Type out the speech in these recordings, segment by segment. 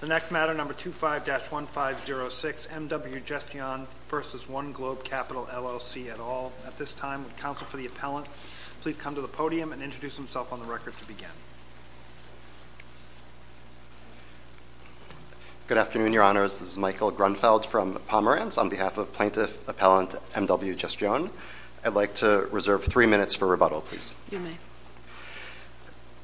The next matter, number 25-1506, MW Gestion v. 1Globe Capital LLC et al. At this time, would counsel for the appellant please come to the podium and introduce himself on the record to begin. Good afternoon, Your Honors. This is Michael Grunfeld from Pomerantz. On behalf of Plaintiff Appellant MW Gestion, I'd like to reserve three minutes for rebuttal, please. You may.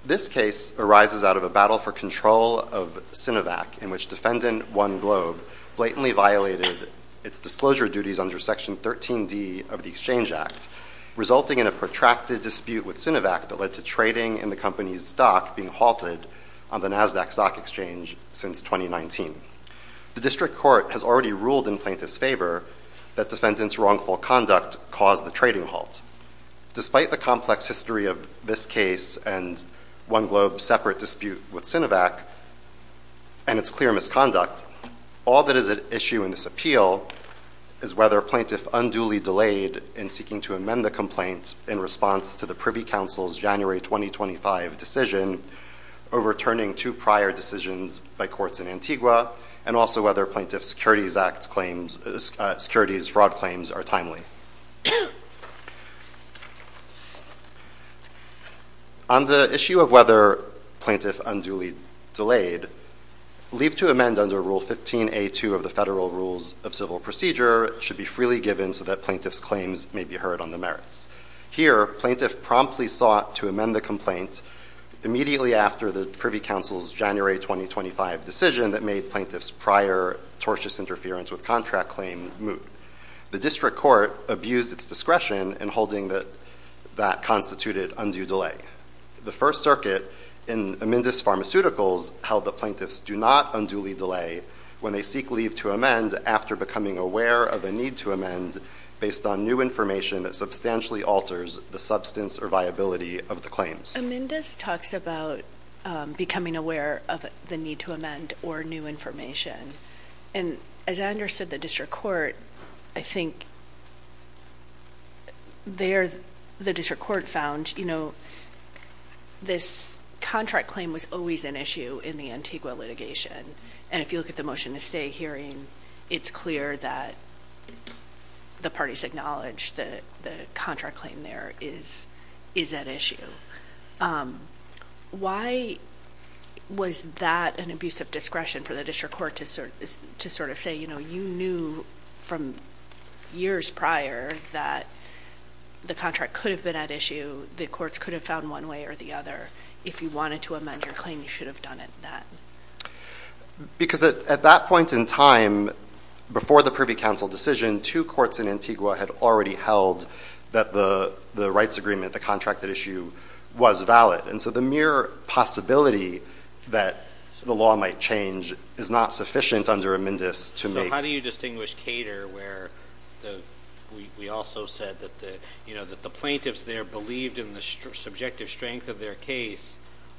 This case arises out of a battle for control of Sinovac in which defendant 1Globe blatantly violated its disclosure duties under Section 13D of the Exchange Act, resulting in a protracted dispute with Sinovac that led to trading in the company's stock being halted on the Nasdaq Stock Exchange since 2019. The District Court has already ruled in plaintiff's favor that defendant's wrongful conduct caused the trading halt. Despite the complex history of this case and 1Globe's separate dispute with Sinovac and its clear misconduct, all that is at issue in this appeal is whether a plaintiff unduly delayed in seeking to amend the complaint in response to the Privy Council's January 2025 decision overturning two prior decisions by courts in Antigua, and also whether plaintiff's Securities Fraud claims are timely. On the issue of whether plaintiff unduly delayed, leave to amend under Rule 15A2 of the Federal Rules of Civil Procedure should be freely given so that plaintiff's claims may be heard on the merits. Here, plaintiff promptly sought to amend the complaint immediately after the Privy Council's January 2025 decision that made plaintiff's prior tortious interference with contract claim moot. The District Court abused its discretion in holding that that constituted undue delay. The First Circuit in Amendus Pharmaceuticals held that plaintiffs do not unduly delay when they seek leave to amend after becoming aware of a need to amend based on new information that substantially alters the substance or viability of the claims. Amendus talks about becoming aware of the need to amend or new information. And as I understood the District Court, I think there the District Court found, you know, this contract claim was always an issue in the Antigua litigation. And if you look at the motion to stay hearing, it's clear that the parties acknowledge that the contract claim there is at issue. Why was that an abuse of discretion for the District Court to sort of say, you know, you knew from years prior that the contract could have been at issue, the courts could have found one way or the other. If you wanted to amend your claim, you should have done it then. Because at that point in time, before the Privy Council decision, two courts in Antigua had already held that the rights agreement, the contracted issue, was valid. And so the mere possibility that the law might change is not sufficient under Amendus to make… We also said that the plaintiffs there believed in the subjective strength of their case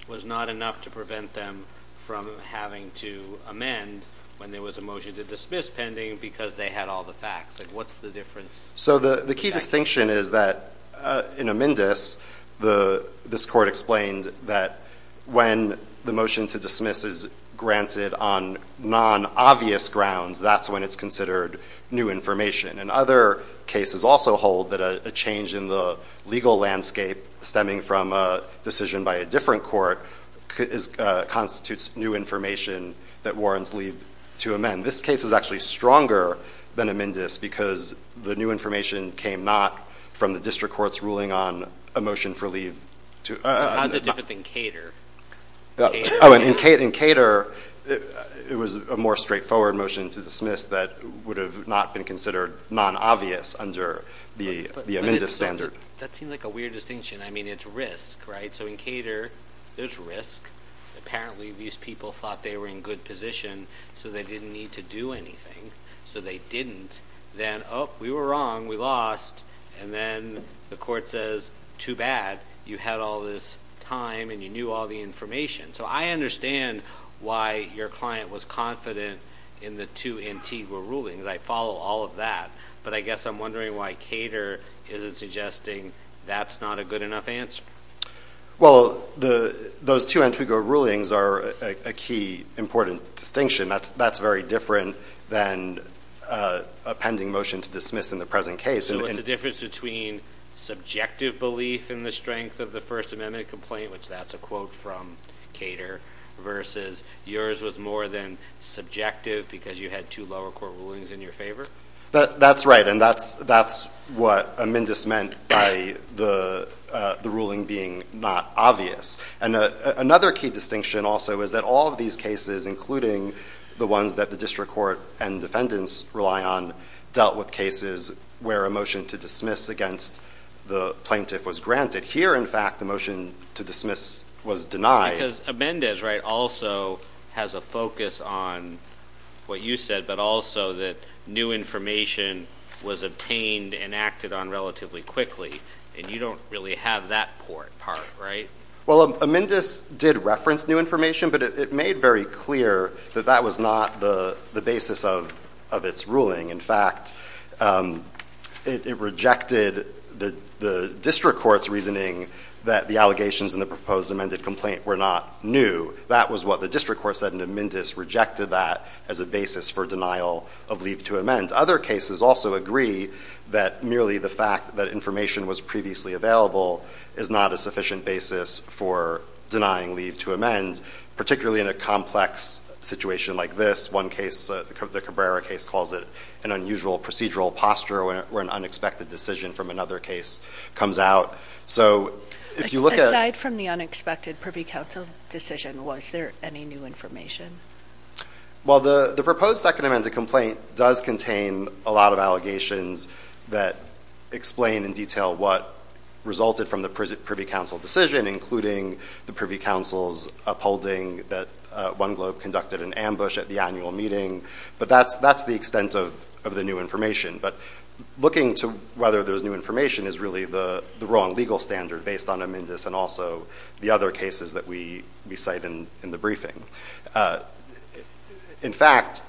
was not enough to prevent them from having to amend when there was a motion to dismiss pending because they had all the facts. What's the difference? So the key distinction is that in Amendus, this court explained that when the motion to dismiss is granted on non-obvious grounds, that's when it's considered new information. And other cases also hold that a change in the legal landscape stemming from a decision by a different court constitutes new information that warrants leave to amend. This case is actually stronger than Amendus because the new information came not from the District Court's ruling on a motion for leave. How's it different than Cater? In Cater, it was a more straightforward motion to dismiss that would have not been considered non-obvious under the Amendus standard. That seems like a weird distinction. I mean, it's risk, right? So in Cater, there's risk. Apparently, these people thought they were in good position, so they didn't need to do anything. So they didn't. Then, oh, we were wrong. We lost. And then the court says, too bad. You had all this time, and you knew all the information. So I understand why your client was confident in the two Antigua rulings. I follow all of that. But I guess I'm wondering why Cater isn't suggesting that's not a good enough answer. Well, those two Antigua rulings are a key important distinction. That's very different than a pending motion to dismiss in the present case. So what's the difference between subjective belief in the strength of the First Amendment complaint, which that's a quote from Cater, versus yours was more than subjective because you had two lower court rulings in your favor? That's right, and that's what Amendus meant by the ruling being not obvious. And another key distinction also is that all of these cases, including the ones that the district court and defendants rely on, dealt with cases where a motion to dismiss against the plaintiff was granted. Here, in fact, the motion to dismiss was denied. Because Amendus also has a focus on what you said, but also that new information was obtained and acted on relatively quickly, and you don't really have that part. Right? Well, Amendus did reference new information, but it made very clear that that was not the basis of its ruling. In fact, it rejected the district court's reasoning that the allegations in the proposed amended complaint were not new. That was what the district court said, and Amendus rejected that as a basis for denial of leave to amend. Other cases also agree that merely the fact that information was previously available is not a sufficient basis for denying leave to amend, particularly in a complex situation like this. One case, the Cabrera case, calls it an unusual procedural posture where an unexpected decision from another case comes out. Aside from the unexpected Privy Council decision, was there any new information? Well, the proposed second amended complaint does contain a lot of allegations that explain in detail what resulted from the Privy Council decision, including the Privy Council's upholding that OneGlobe conducted an ambush at the annual meeting. But that's the extent of the new information. But looking to whether there's new information is really the wrong legal standard based on Amendus and also the other cases that we cite in the briefing. In fact,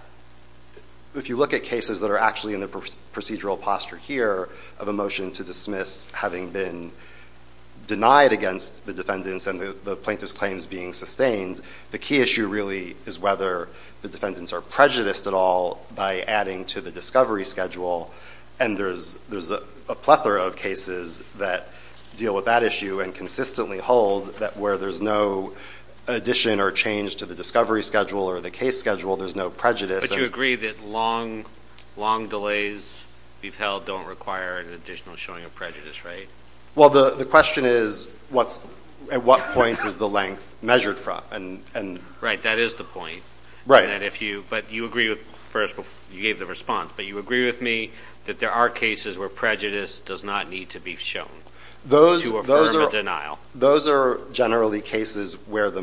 if you look at cases that are actually in the procedural posture here of a motion to dismiss having been denied against the defendants and the plaintiff's claims being sustained, the key issue really is whether the defendants are prejudiced at all by adding to the discovery schedule. And there's a plethora of cases that deal with that issue and consistently hold that where there's no addition or change to the discovery schedule or the case schedule, there's no prejudice. But you agree that long delays we've held don't require an additional showing of prejudice, right? Well, the question is, at what point is the length measured from? Right, that is the point. Right. You gave the response, but you agree with me that there are cases where prejudice does not need to be shown to affirm a denial. Those are generally cases where the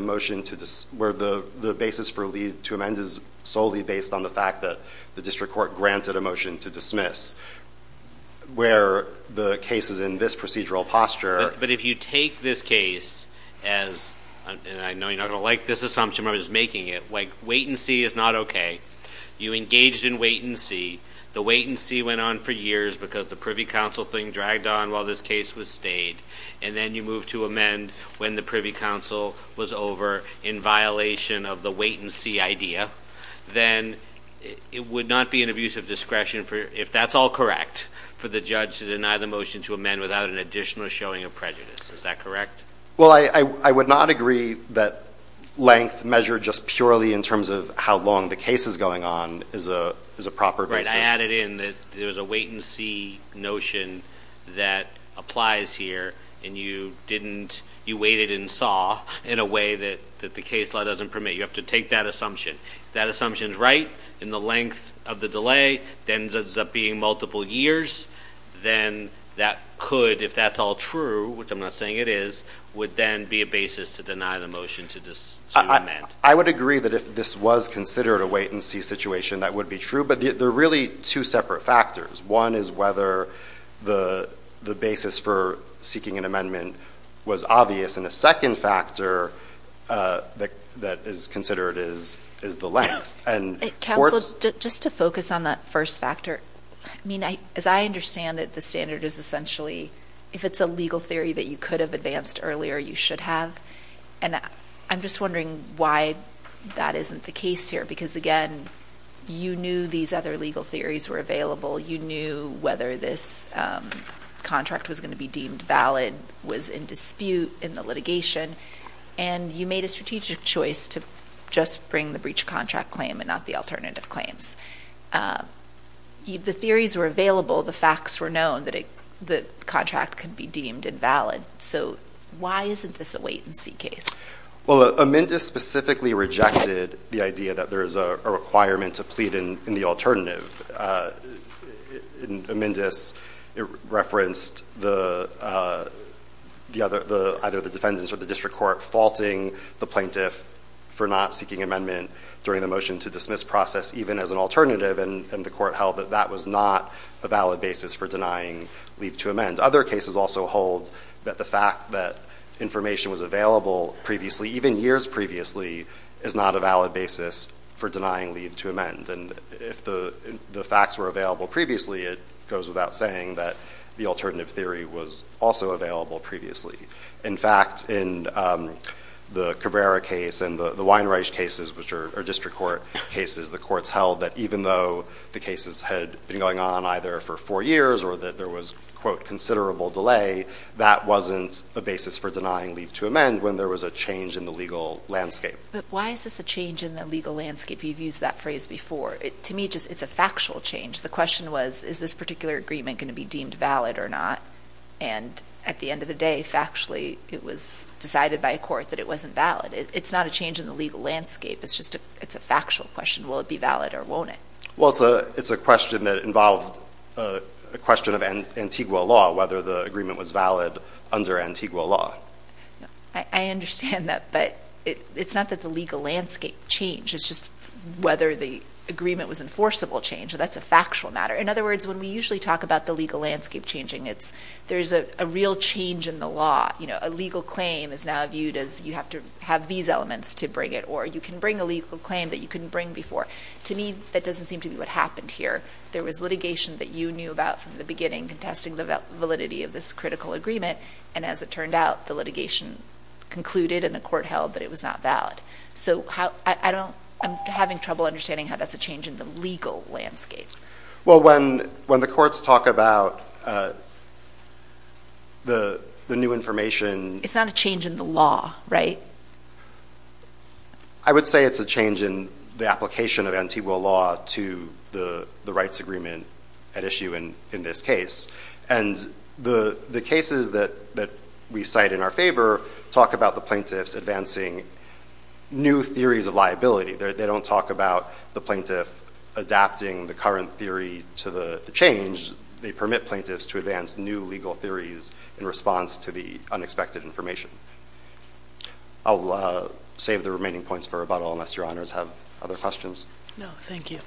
basis to amend is solely based on the fact that the district court granted a motion to dismiss, where the case is in this procedural posture. But if you take this case as, and I know you're not going to like this assumption, but I'm just making it. Wait and see is not okay. You engaged in wait and see. The wait and see went on for years because the Privy Council thing dragged on while this case was stayed, and then you moved to amend when the Privy Council was over in violation of the wait and see idea, then it would not be an abuse of discretion, if that's all correct, for the judge to deny the motion to amend without an additional showing of prejudice. Is that correct? Well, I would not agree that length measured just purely in terms of how long the case is going on is a proper basis. Right. I added in that there's a wait and see notion that applies here, and you waited and saw in a way that the case law doesn't permit. You have to take that assumption. If that assumption is right and the length of the delay ends up being multiple years, then that could, if that's all true, which I'm not saying it is, would then be a basis to deny the motion to amend. I would agree that if this was considered a wait and see situation, that would be true. But there are really two separate factors. One is whether the basis for seeking an amendment was obvious. And the second factor that is considered is the length. Counsel, just to focus on that first factor, I mean, as I understand it, the standard is essentially if it's a legal theory that you could have advanced earlier, you should have. And I'm just wondering why that isn't the case here, because, again, you knew these other legal theories were available. You knew whether this contract was going to be deemed valid, was in dispute in the litigation, and you made a strategic choice to just bring the breach contract claim and not the alternative claims. The theories were available. The facts were known that the contract could be deemed invalid. So why isn't this a wait and see case? Well, Amendus specifically rejected the idea that there is a requirement to plead in the alternative. Amendus referenced either the defendants or the district court faulting the plaintiff for not seeking amendment during the motion to dismiss process even as an alternative, and the court held that that was not a valid basis for denying leave to amend. And other cases also hold that the fact that information was available previously, even years previously, is not a valid basis for denying leave to amend. And if the facts were available previously, it goes without saying that the alternative theory was also available previously. In fact, in the Cabrera case and the Weinreich cases, which are district court cases, the courts held that even though the cases had been going on either for four years or that there was, quote, considerable delay, that wasn't a basis for denying leave to amend when there was a change in the legal landscape. But why is this a change in the legal landscape? You've used that phrase before. To me, it's a factual change. The question was, is this particular agreement going to be deemed valid or not? And at the end of the day, factually, it was decided by a court that it wasn't valid. It's not a change in the legal landscape. It's just a factual question. Will it be valid or won't it? Well, it's a question that involved a question of Antigua law, whether the agreement was valid under Antigua law. I understand that. But it's not that the legal landscape changed. It's just whether the agreement was enforceable change. That's a factual matter. In other words, when we usually talk about the legal landscape changing, there's a real change in the law. A legal claim is now viewed as you have to have these elements to bring it, or you can bring a legal claim that you couldn't bring before. To me, that doesn't seem to be what happened here. There was litigation that you knew about from the beginning contesting the validity of this critical agreement, and as it turned out, the litigation concluded and the court held that it was not valid. So I'm having trouble understanding how that's a change in the legal landscape. Well, when the courts talk about the new information. It's not a change in the law, right? I would say it's a change in the application of Antigua law to the rights agreement at issue in this case. And the cases that we cite in our favor talk about the plaintiffs advancing new theories of liability. They don't talk about the plaintiff adapting the current theory to the change. They permit plaintiffs to advance new legal theories in response to the unexpected information. I'll save the remaining points for rebuttal unless your honors have other questions. No, thank you.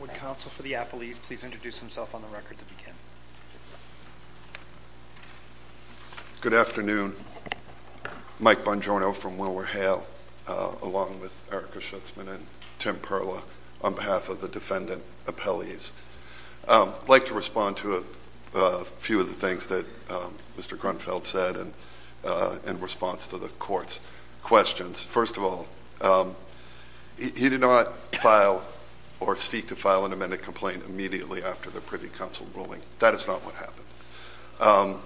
Would counsel for the apologies please introduce himself on the record to begin? Good afternoon. Mike Bongiorno from Willward Hale along with Erica Schutzman and Tim Perla on behalf of the defendant appellees. I'd like to respond to a few of the things that Mr. Grunfeld said in response to the court's questions. First of all, he did not file or seek to file an amended complaint immediately after the Privy Council ruling. That is not what happened.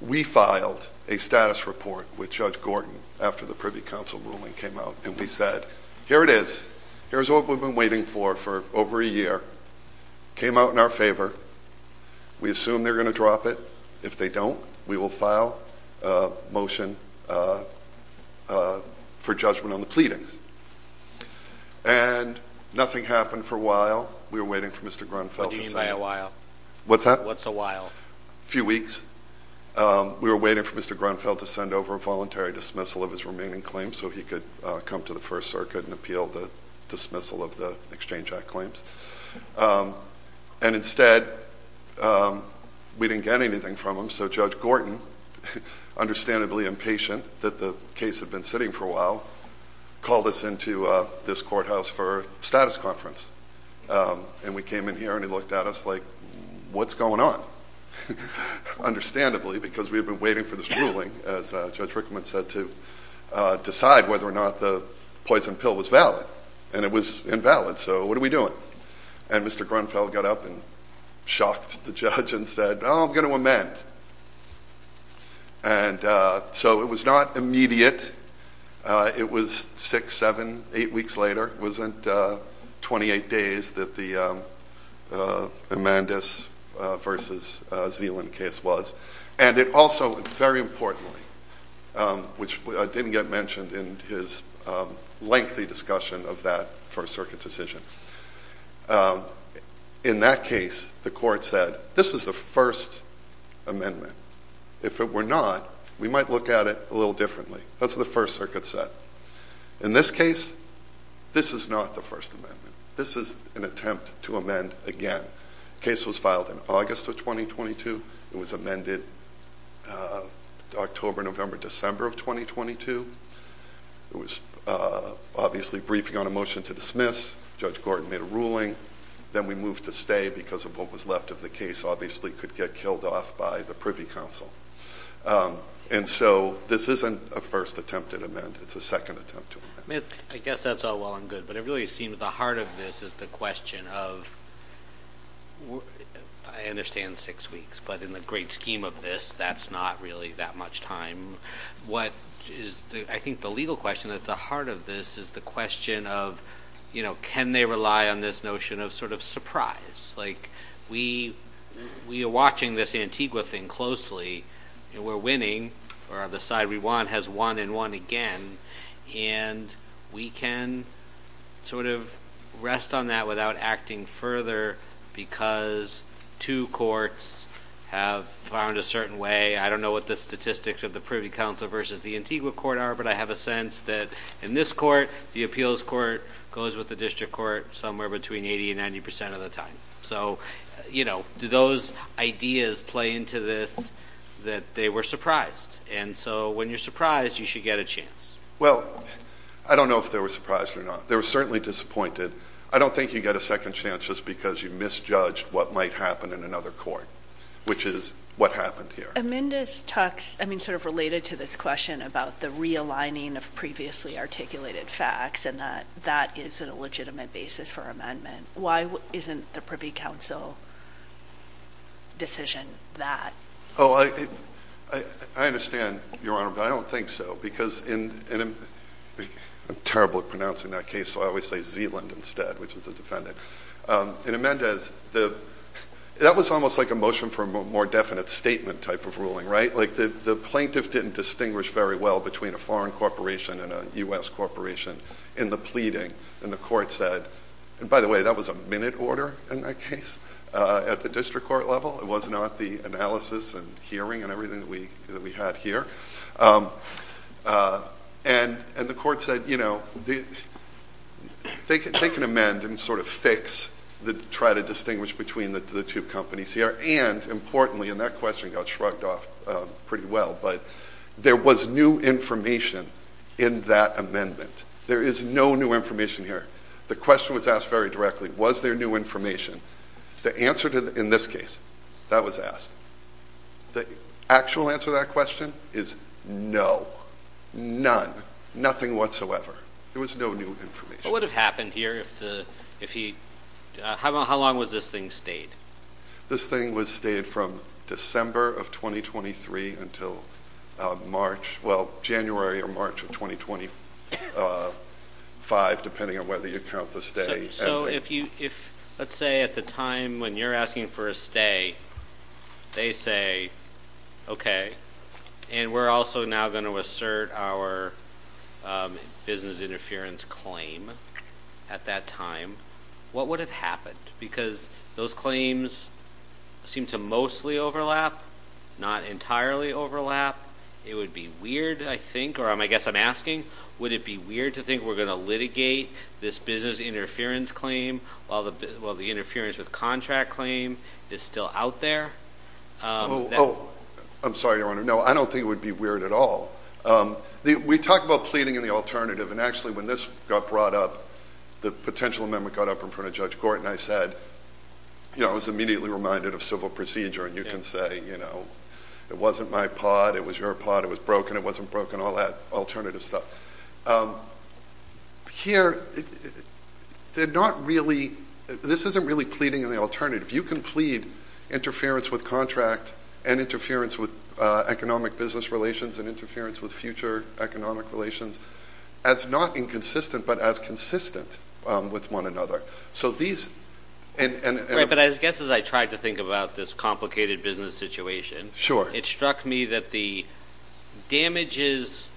We filed a status report with Judge Gordon after the Privy Council ruling came out. And we said, here it is. Here's what we've been waiting for for over a year. Came out in our favor. We assume they're going to drop it. If they don't, we will file a motion for judgment on the pleadings. And nothing happened for a while. We were waiting for Mr. Grunfeld. What do you mean by a while? What's that? What's a while? A few weeks. We were waiting for Mr. Grunfeld to send over a voluntary dismissal of his remaining claims, so he could come to the First Circuit and appeal the dismissal of the Exchange Act claims. And instead, we didn't get anything from him. So Judge Gordon, understandably impatient that the case had been sitting for a while, called us into this courthouse for a status conference. And we came in here, and he looked at us like, what's going on? Understandably, because we had been waiting for this ruling, as Judge Rickman said, to decide whether or not the poison pill was valid. And it was invalid. So what are we doing? And Mr. Grunfeld got up and shocked the judge and said, oh, I'm going to amend. And so it was not immediate. It was six, seven, eight weeks later. It wasn't 28 days that the Amandus v. Zeeland case was. And it also, very importantly, which didn't get mentioned in his lengthy discussion of that First Circuit decision, in that case, the court said, this is the First Amendment. If it were not, we might look at it a little differently. That's what the First Circuit said. In this case, this is not the First Amendment. This is an attempt to amend again. The case was filed in August of 2022. It was amended October, November, December of 2022. It was obviously briefing on a motion to dismiss. Judge Gordon made a ruling. Then we moved to stay because of what was left of the case, obviously, could get killed off by the Privy Council. And so this isn't a first attempt to amend. It's a second attempt to amend. I guess that's all well and good. But it really seems the heart of this is the question of, I understand, six weeks. But in the great scheme of this, that's not really that much time. What is, I think, the legal question at the heart of this is the question of, you know, can they rely on this notion of sort of surprise? Like, we are watching this Antigua thing closely. We're winning, or the side we want has won and won again. And we can sort of rest on that without acting further because two courts have found a certain way. I don't know what the statistics of the Privy Council versus the Antigua court are, but I have a sense that in this court, the appeals court goes with the district court somewhere between 80% and 90% of the time. So, you know, do those ideas play into this that they were surprised? And so when you're surprised, you should get a chance. Well, I don't know if they were surprised or not. They were certainly disappointed. I don't think you get a second chance just because you misjudged what might happen in another court, which is what happened here. Amendus talks, I mean, sort of related to this question about the realigning of previously articulated facts and that that is a legitimate basis for amendment. Why isn't the Privy Council decision that? Oh, I understand, Your Honor, but I don't think so. I'm terrible at pronouncing that case, so I always say Zealand instead, which was the defendant. In Amendus, that was almost like a motion for a more definite statement type of ruling, right? Like the plaintiff didn't distinguish very well between a foreign corporation and a U.S. corporation in the pleading. And the court said, and by the way, that was a minute order in that case at the district court level. It was not the analysis and hearing and everything that we had here. And the court said, you know, they can amend and sort of fix, try to distinguish between the two companies here. And importantly, and that question got shrugged off pretty well, but there was new information in that amendment. There is no new information here. The question was asked very directly, was there new information? The answer in this case, that was asked. The actual answer to that question is no, none, nothing whatsoever. There was no new information. What would have happened here if he? How long was this thing stayed? This thing was stayed from December of 2023 until March, well, January or March of 2025, depending on whether you count the stay. Let's say at the time when you're asking for a stay, they say, okay, and we're also now going to assert our business interference claim at that time. What would have happened? Because those claims seem to mostly overlap, not entirely overlap. It would be weird, I think, or I guess I'm asking, would it be weird to think we're going to litigate this business interference claim while the interference with contract claim is still out there? I'm sorry, Your Honor, no, I don't think it would be weird at all. We talked about pleading in the alternative, and actually when this got brought up, the potential amendment got up in front of Judge Gorton. I said, you know, I was immediately reminded of civil procedure, and you can say, you know, it wasn't my pot, it was your pot, it was broken, and it wasn't broken, all that alternative stuff. Here, they're not really, this isn't really pleading in the alternative. You can plead interference with contract and interference with economic business relations and interference with future economic relations as not inconsistent but as consistent with one another. But I guess as I tried to think about this complicated business situation, it struck me that the damages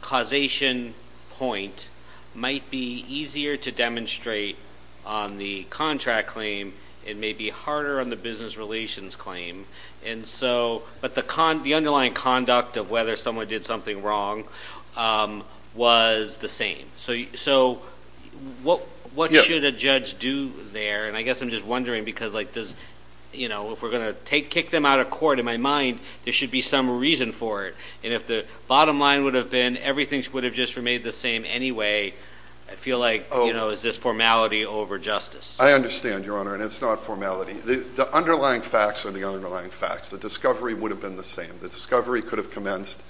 causation point might be easier to demonstrate on the contract claim and maybe harder on the business relations claim, but the underlying conduct of whether someone did something wrong was the same. So what should a judge do there? And I guess I'm just wondering because, you know, if we're going to kick them out of court, in my mind, there should be some reason for it. And if the bottom line would have been everything would have just remained the same anyway, I feel like, you know, is this formality over justice? I understand, Your Honor, and it's not formality. The underlying facts are the underlying facts. The discovery would have been the same. The discovery could have commenced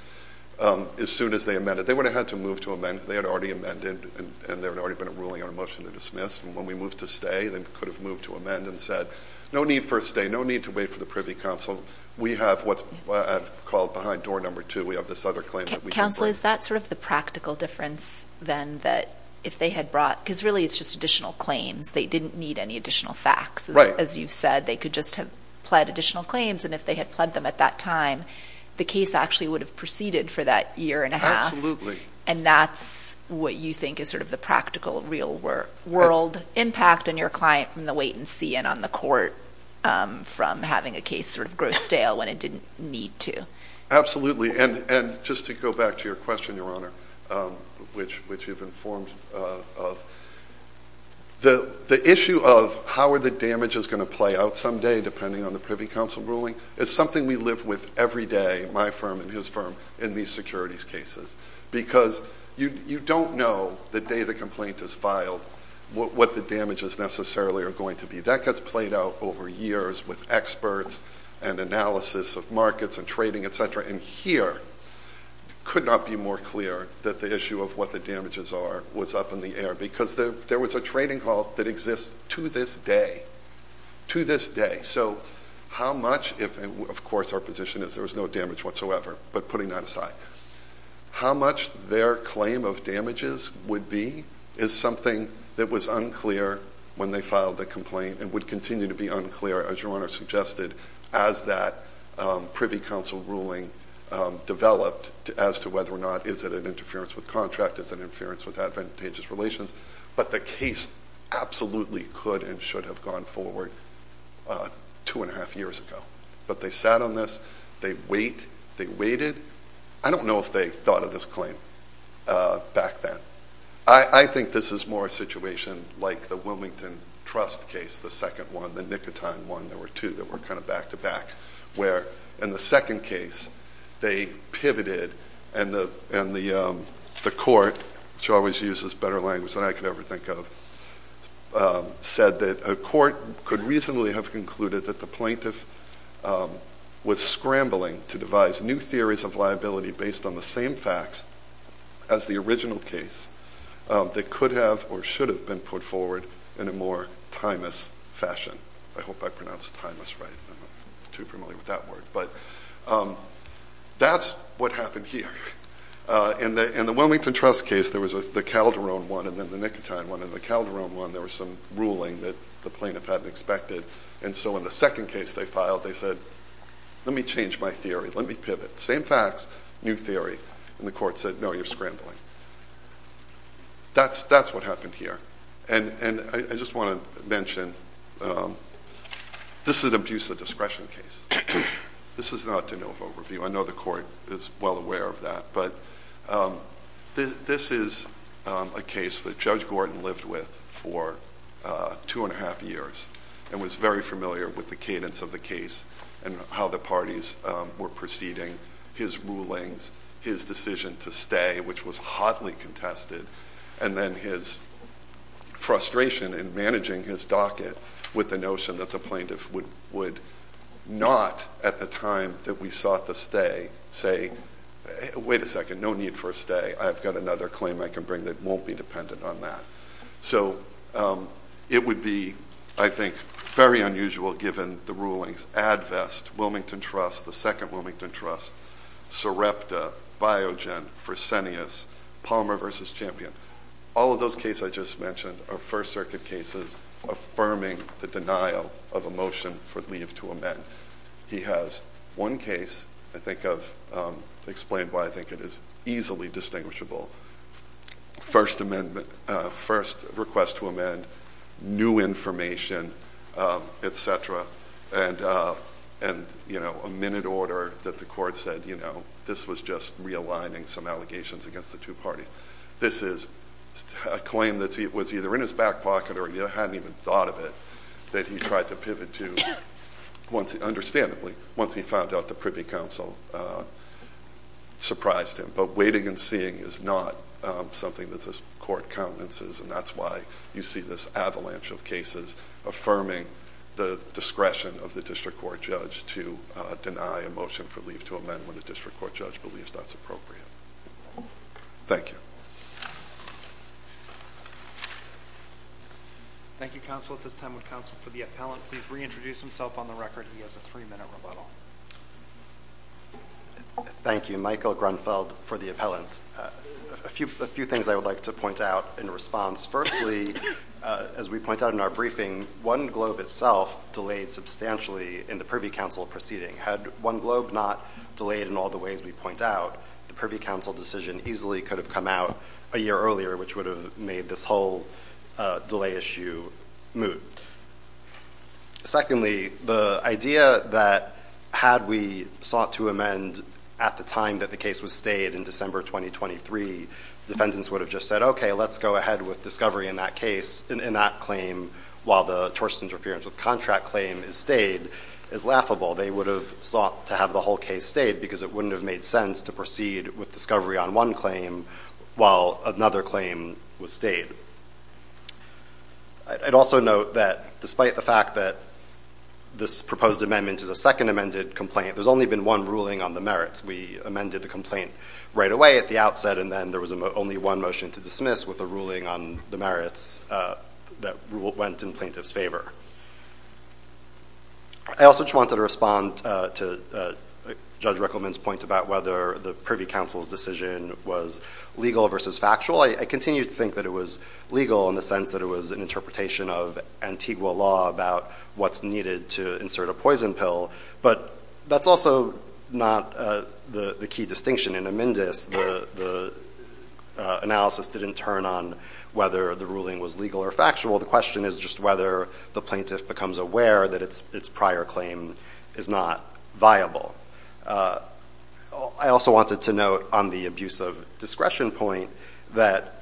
as soon as they amended. They would have had to move to amend because they had already amended and there had already been a ruling on a motion to dismiss. And when we moved to stay, they could have moved to amend and said, no need for a stay, no need to wait for the Privy Council. We have what's called behind door number two. We have this other claim that we can bring. Counsel, is that sort of the practical difference then that if they had brought because really it's just additional claims. They didn't need any additional facts. As you've said, they could just have pled additional claims, and if they had pled them at that time, the case actually would have proceeded for that year and a half. And that's what you think is sort of the practical real world impact on your client from the wait and see and on the court from having a case sort of grow stale when it didn't need to. And just to go back to your question, Your Honor, which you've informed of, the issue of how are the damages going to play out someday depending on the Privy Council ruling is something we live with every day, my firm and his firm, in these securities cases. Because you don't know the day the complaint is filed what the damages necessarily are going to be. That gets played out over years with experts and analysis of markets and trading, et cetera. And here, it could not be more clear that the issue of what the damages are was up in the air because there was a trading call that exists to this day, to this day. So how much, of course our position is there was no damage whatsoever, but putting that aside, how much their claim of damages would be is something that was unclear when they filed the complaint and would continue to be unclear, as Your Honor suggested, as that Privy Council ruling developed as to whether or not is it an interference with contract, is it an interference with advantageous relations, but the case absolutely could and should have gone forward two and a half years ago. But they sat on this, they wait, they waited. I don't know if they thought of this claim back then. I think this is more a situation like the Wilmington Trust case, the second one, the nicotine one, there were two that were kind of back to back, where in the second case, they pivoted and the court, which always uses better language than I could ever think of, said that a court could reasonably have concluded that the plaintiff was scrambling to devise new theories of liability based on the same facts as the original case that could have or should have been put forward in a more timeless fashion. I hope I pronounced timeless right. I'm not too familiar with that word. But that's what happened here. In the Wilmington Trust case, there was the Calderon one and then the nicotine one. In the Calderon one, there was some ruling that the plaintiff hadn't expected, and so in the second case they filed, they said, let me change my theory. Let me pivot. Same facts, new theory. And the court said, no, you're scrambling. That's what happened here. And I just want to mention, this is an abuse of discretion case. This is not de novo review. I know the court is well aware of that. But this is a case that Judge Gordon lived with for two and a half years and was very familiar with the cadence of the case and how the parties were proceeding, his rulings, his decision to stay, which was hotly contested, and then his frustration in managing his docket with the notion that the plaintiff would not, at the time that we sought the stay, say, wait a second, no need for a stay. I've got another claim I can bring that won't be dependent on that. So it would be, I think, very unusual given the rulings. Advest, Wilmington Trust, the second Wilmington Trust, Sarepta, Biogen, Fresenius, Palmer v. Champion. All of those cases I just mentioned are First Circuit cases affirming the denial of a motion for leave to amend. He has one case I think I've explained why I think it is easily distinguishable. First request to amend, new information, et cetera, and a minute order that the court said, you know, this was just realigning some allegations against the two parties. This is a claim that was either in his back pocket or he hadn't even thought of it that he tried to pivot to, understandably, once he found out the Privy Council surprised him. But waiting and seeing is not something that this court countenances, and that's why you see this avalanche of cases affirming the discretion of the district court judge to deny a motion for leave to amend when the district court judge believes that's appropriate. Thank you. Thank you, counsel. At this time would counsel for the appellant please reintroduce himself on the record. He has a three-minute rebuttal. Thank you. Michael Grunfeld for the appellant. A few things I would like to point out in response. Firstly, as we point out in our briefing, One Globe itself delayed substantially in the Privy Council proceeding. Had One Globe not delayed in all the ways we point out, the Privy Council decision easily could have come out a year earlier, which would have made this whole delay issue moot. Secondly, the idea that had we sought to amend at the time that the case was stayed in December 2023, defendants would have just said, Okay, let's go ahead with discovery in that claim while the tortious interference with contract claim is stayed is laughable. They would have sought to have the whole case stayed because it wouldn't have made sense to proceed with discovery on one claim while another claim was stayed. I'd also note that despite the fact that this proposed amendment is a second amended complaint, there's only been one ruling on the merits. We amended the complaint right away at the outset, and then there was only one motion to dismiss with a ruling on the merits that went in plaintiff's favor. I also just wanted to respond to Judge Rickleman's point about whether the Privy Council's decision was legal versus factual. I continue to think that it was legal in the sense that it was an interpretation of Antigua law about what's needed to insert a poison pill, but that's also not the key distinction. In Amendus, the analysis didn't turn on whether the ruling was legal or factual. The question is just whether the plaintiff becomes aware that its prior claim is not viable. I also wanted to note on the abuse of discretion point that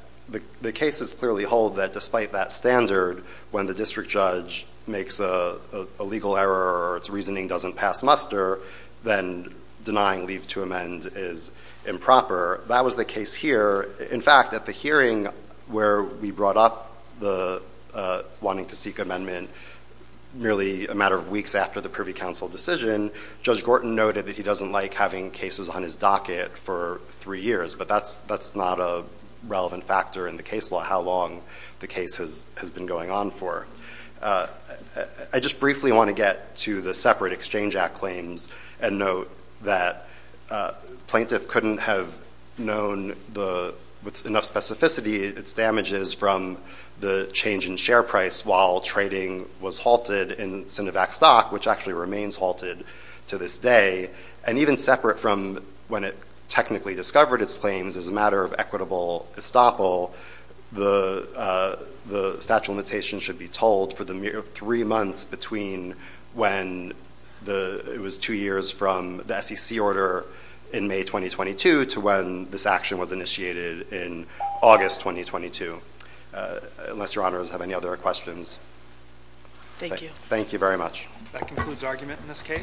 the cases clearly hold that despite that standard, when the district judge makes a legal error or its reasoning doesn't pass muster, then denying leave to amend is improper. That was the case here. In fact, at the hearing where we brought up the wanting to seek amendment merely a matter of weeks after the Privy Council decision, Judge Gorton noted that he doesn't like having cases on his docket for three years, but that's not a relevant factor in the case law, how long the case has been going on for. I just briefly want to get to the separate Exchange Act claims and note that plaintiff couldn't have known with enough specificity its damages from the change in share price while trading was halted in Sinovac stock, which actually remains halted to this day, and even separate from when it technically discovered its claims as a matter of equitable estoppel, the statute of limitations should be told for the mere three months between when it was two years from the SEC order in May 2022 to when this action was initiated in August 2022. Unless your honors have any other questions. Thank you. Thank you very much. That concludes argument in this case.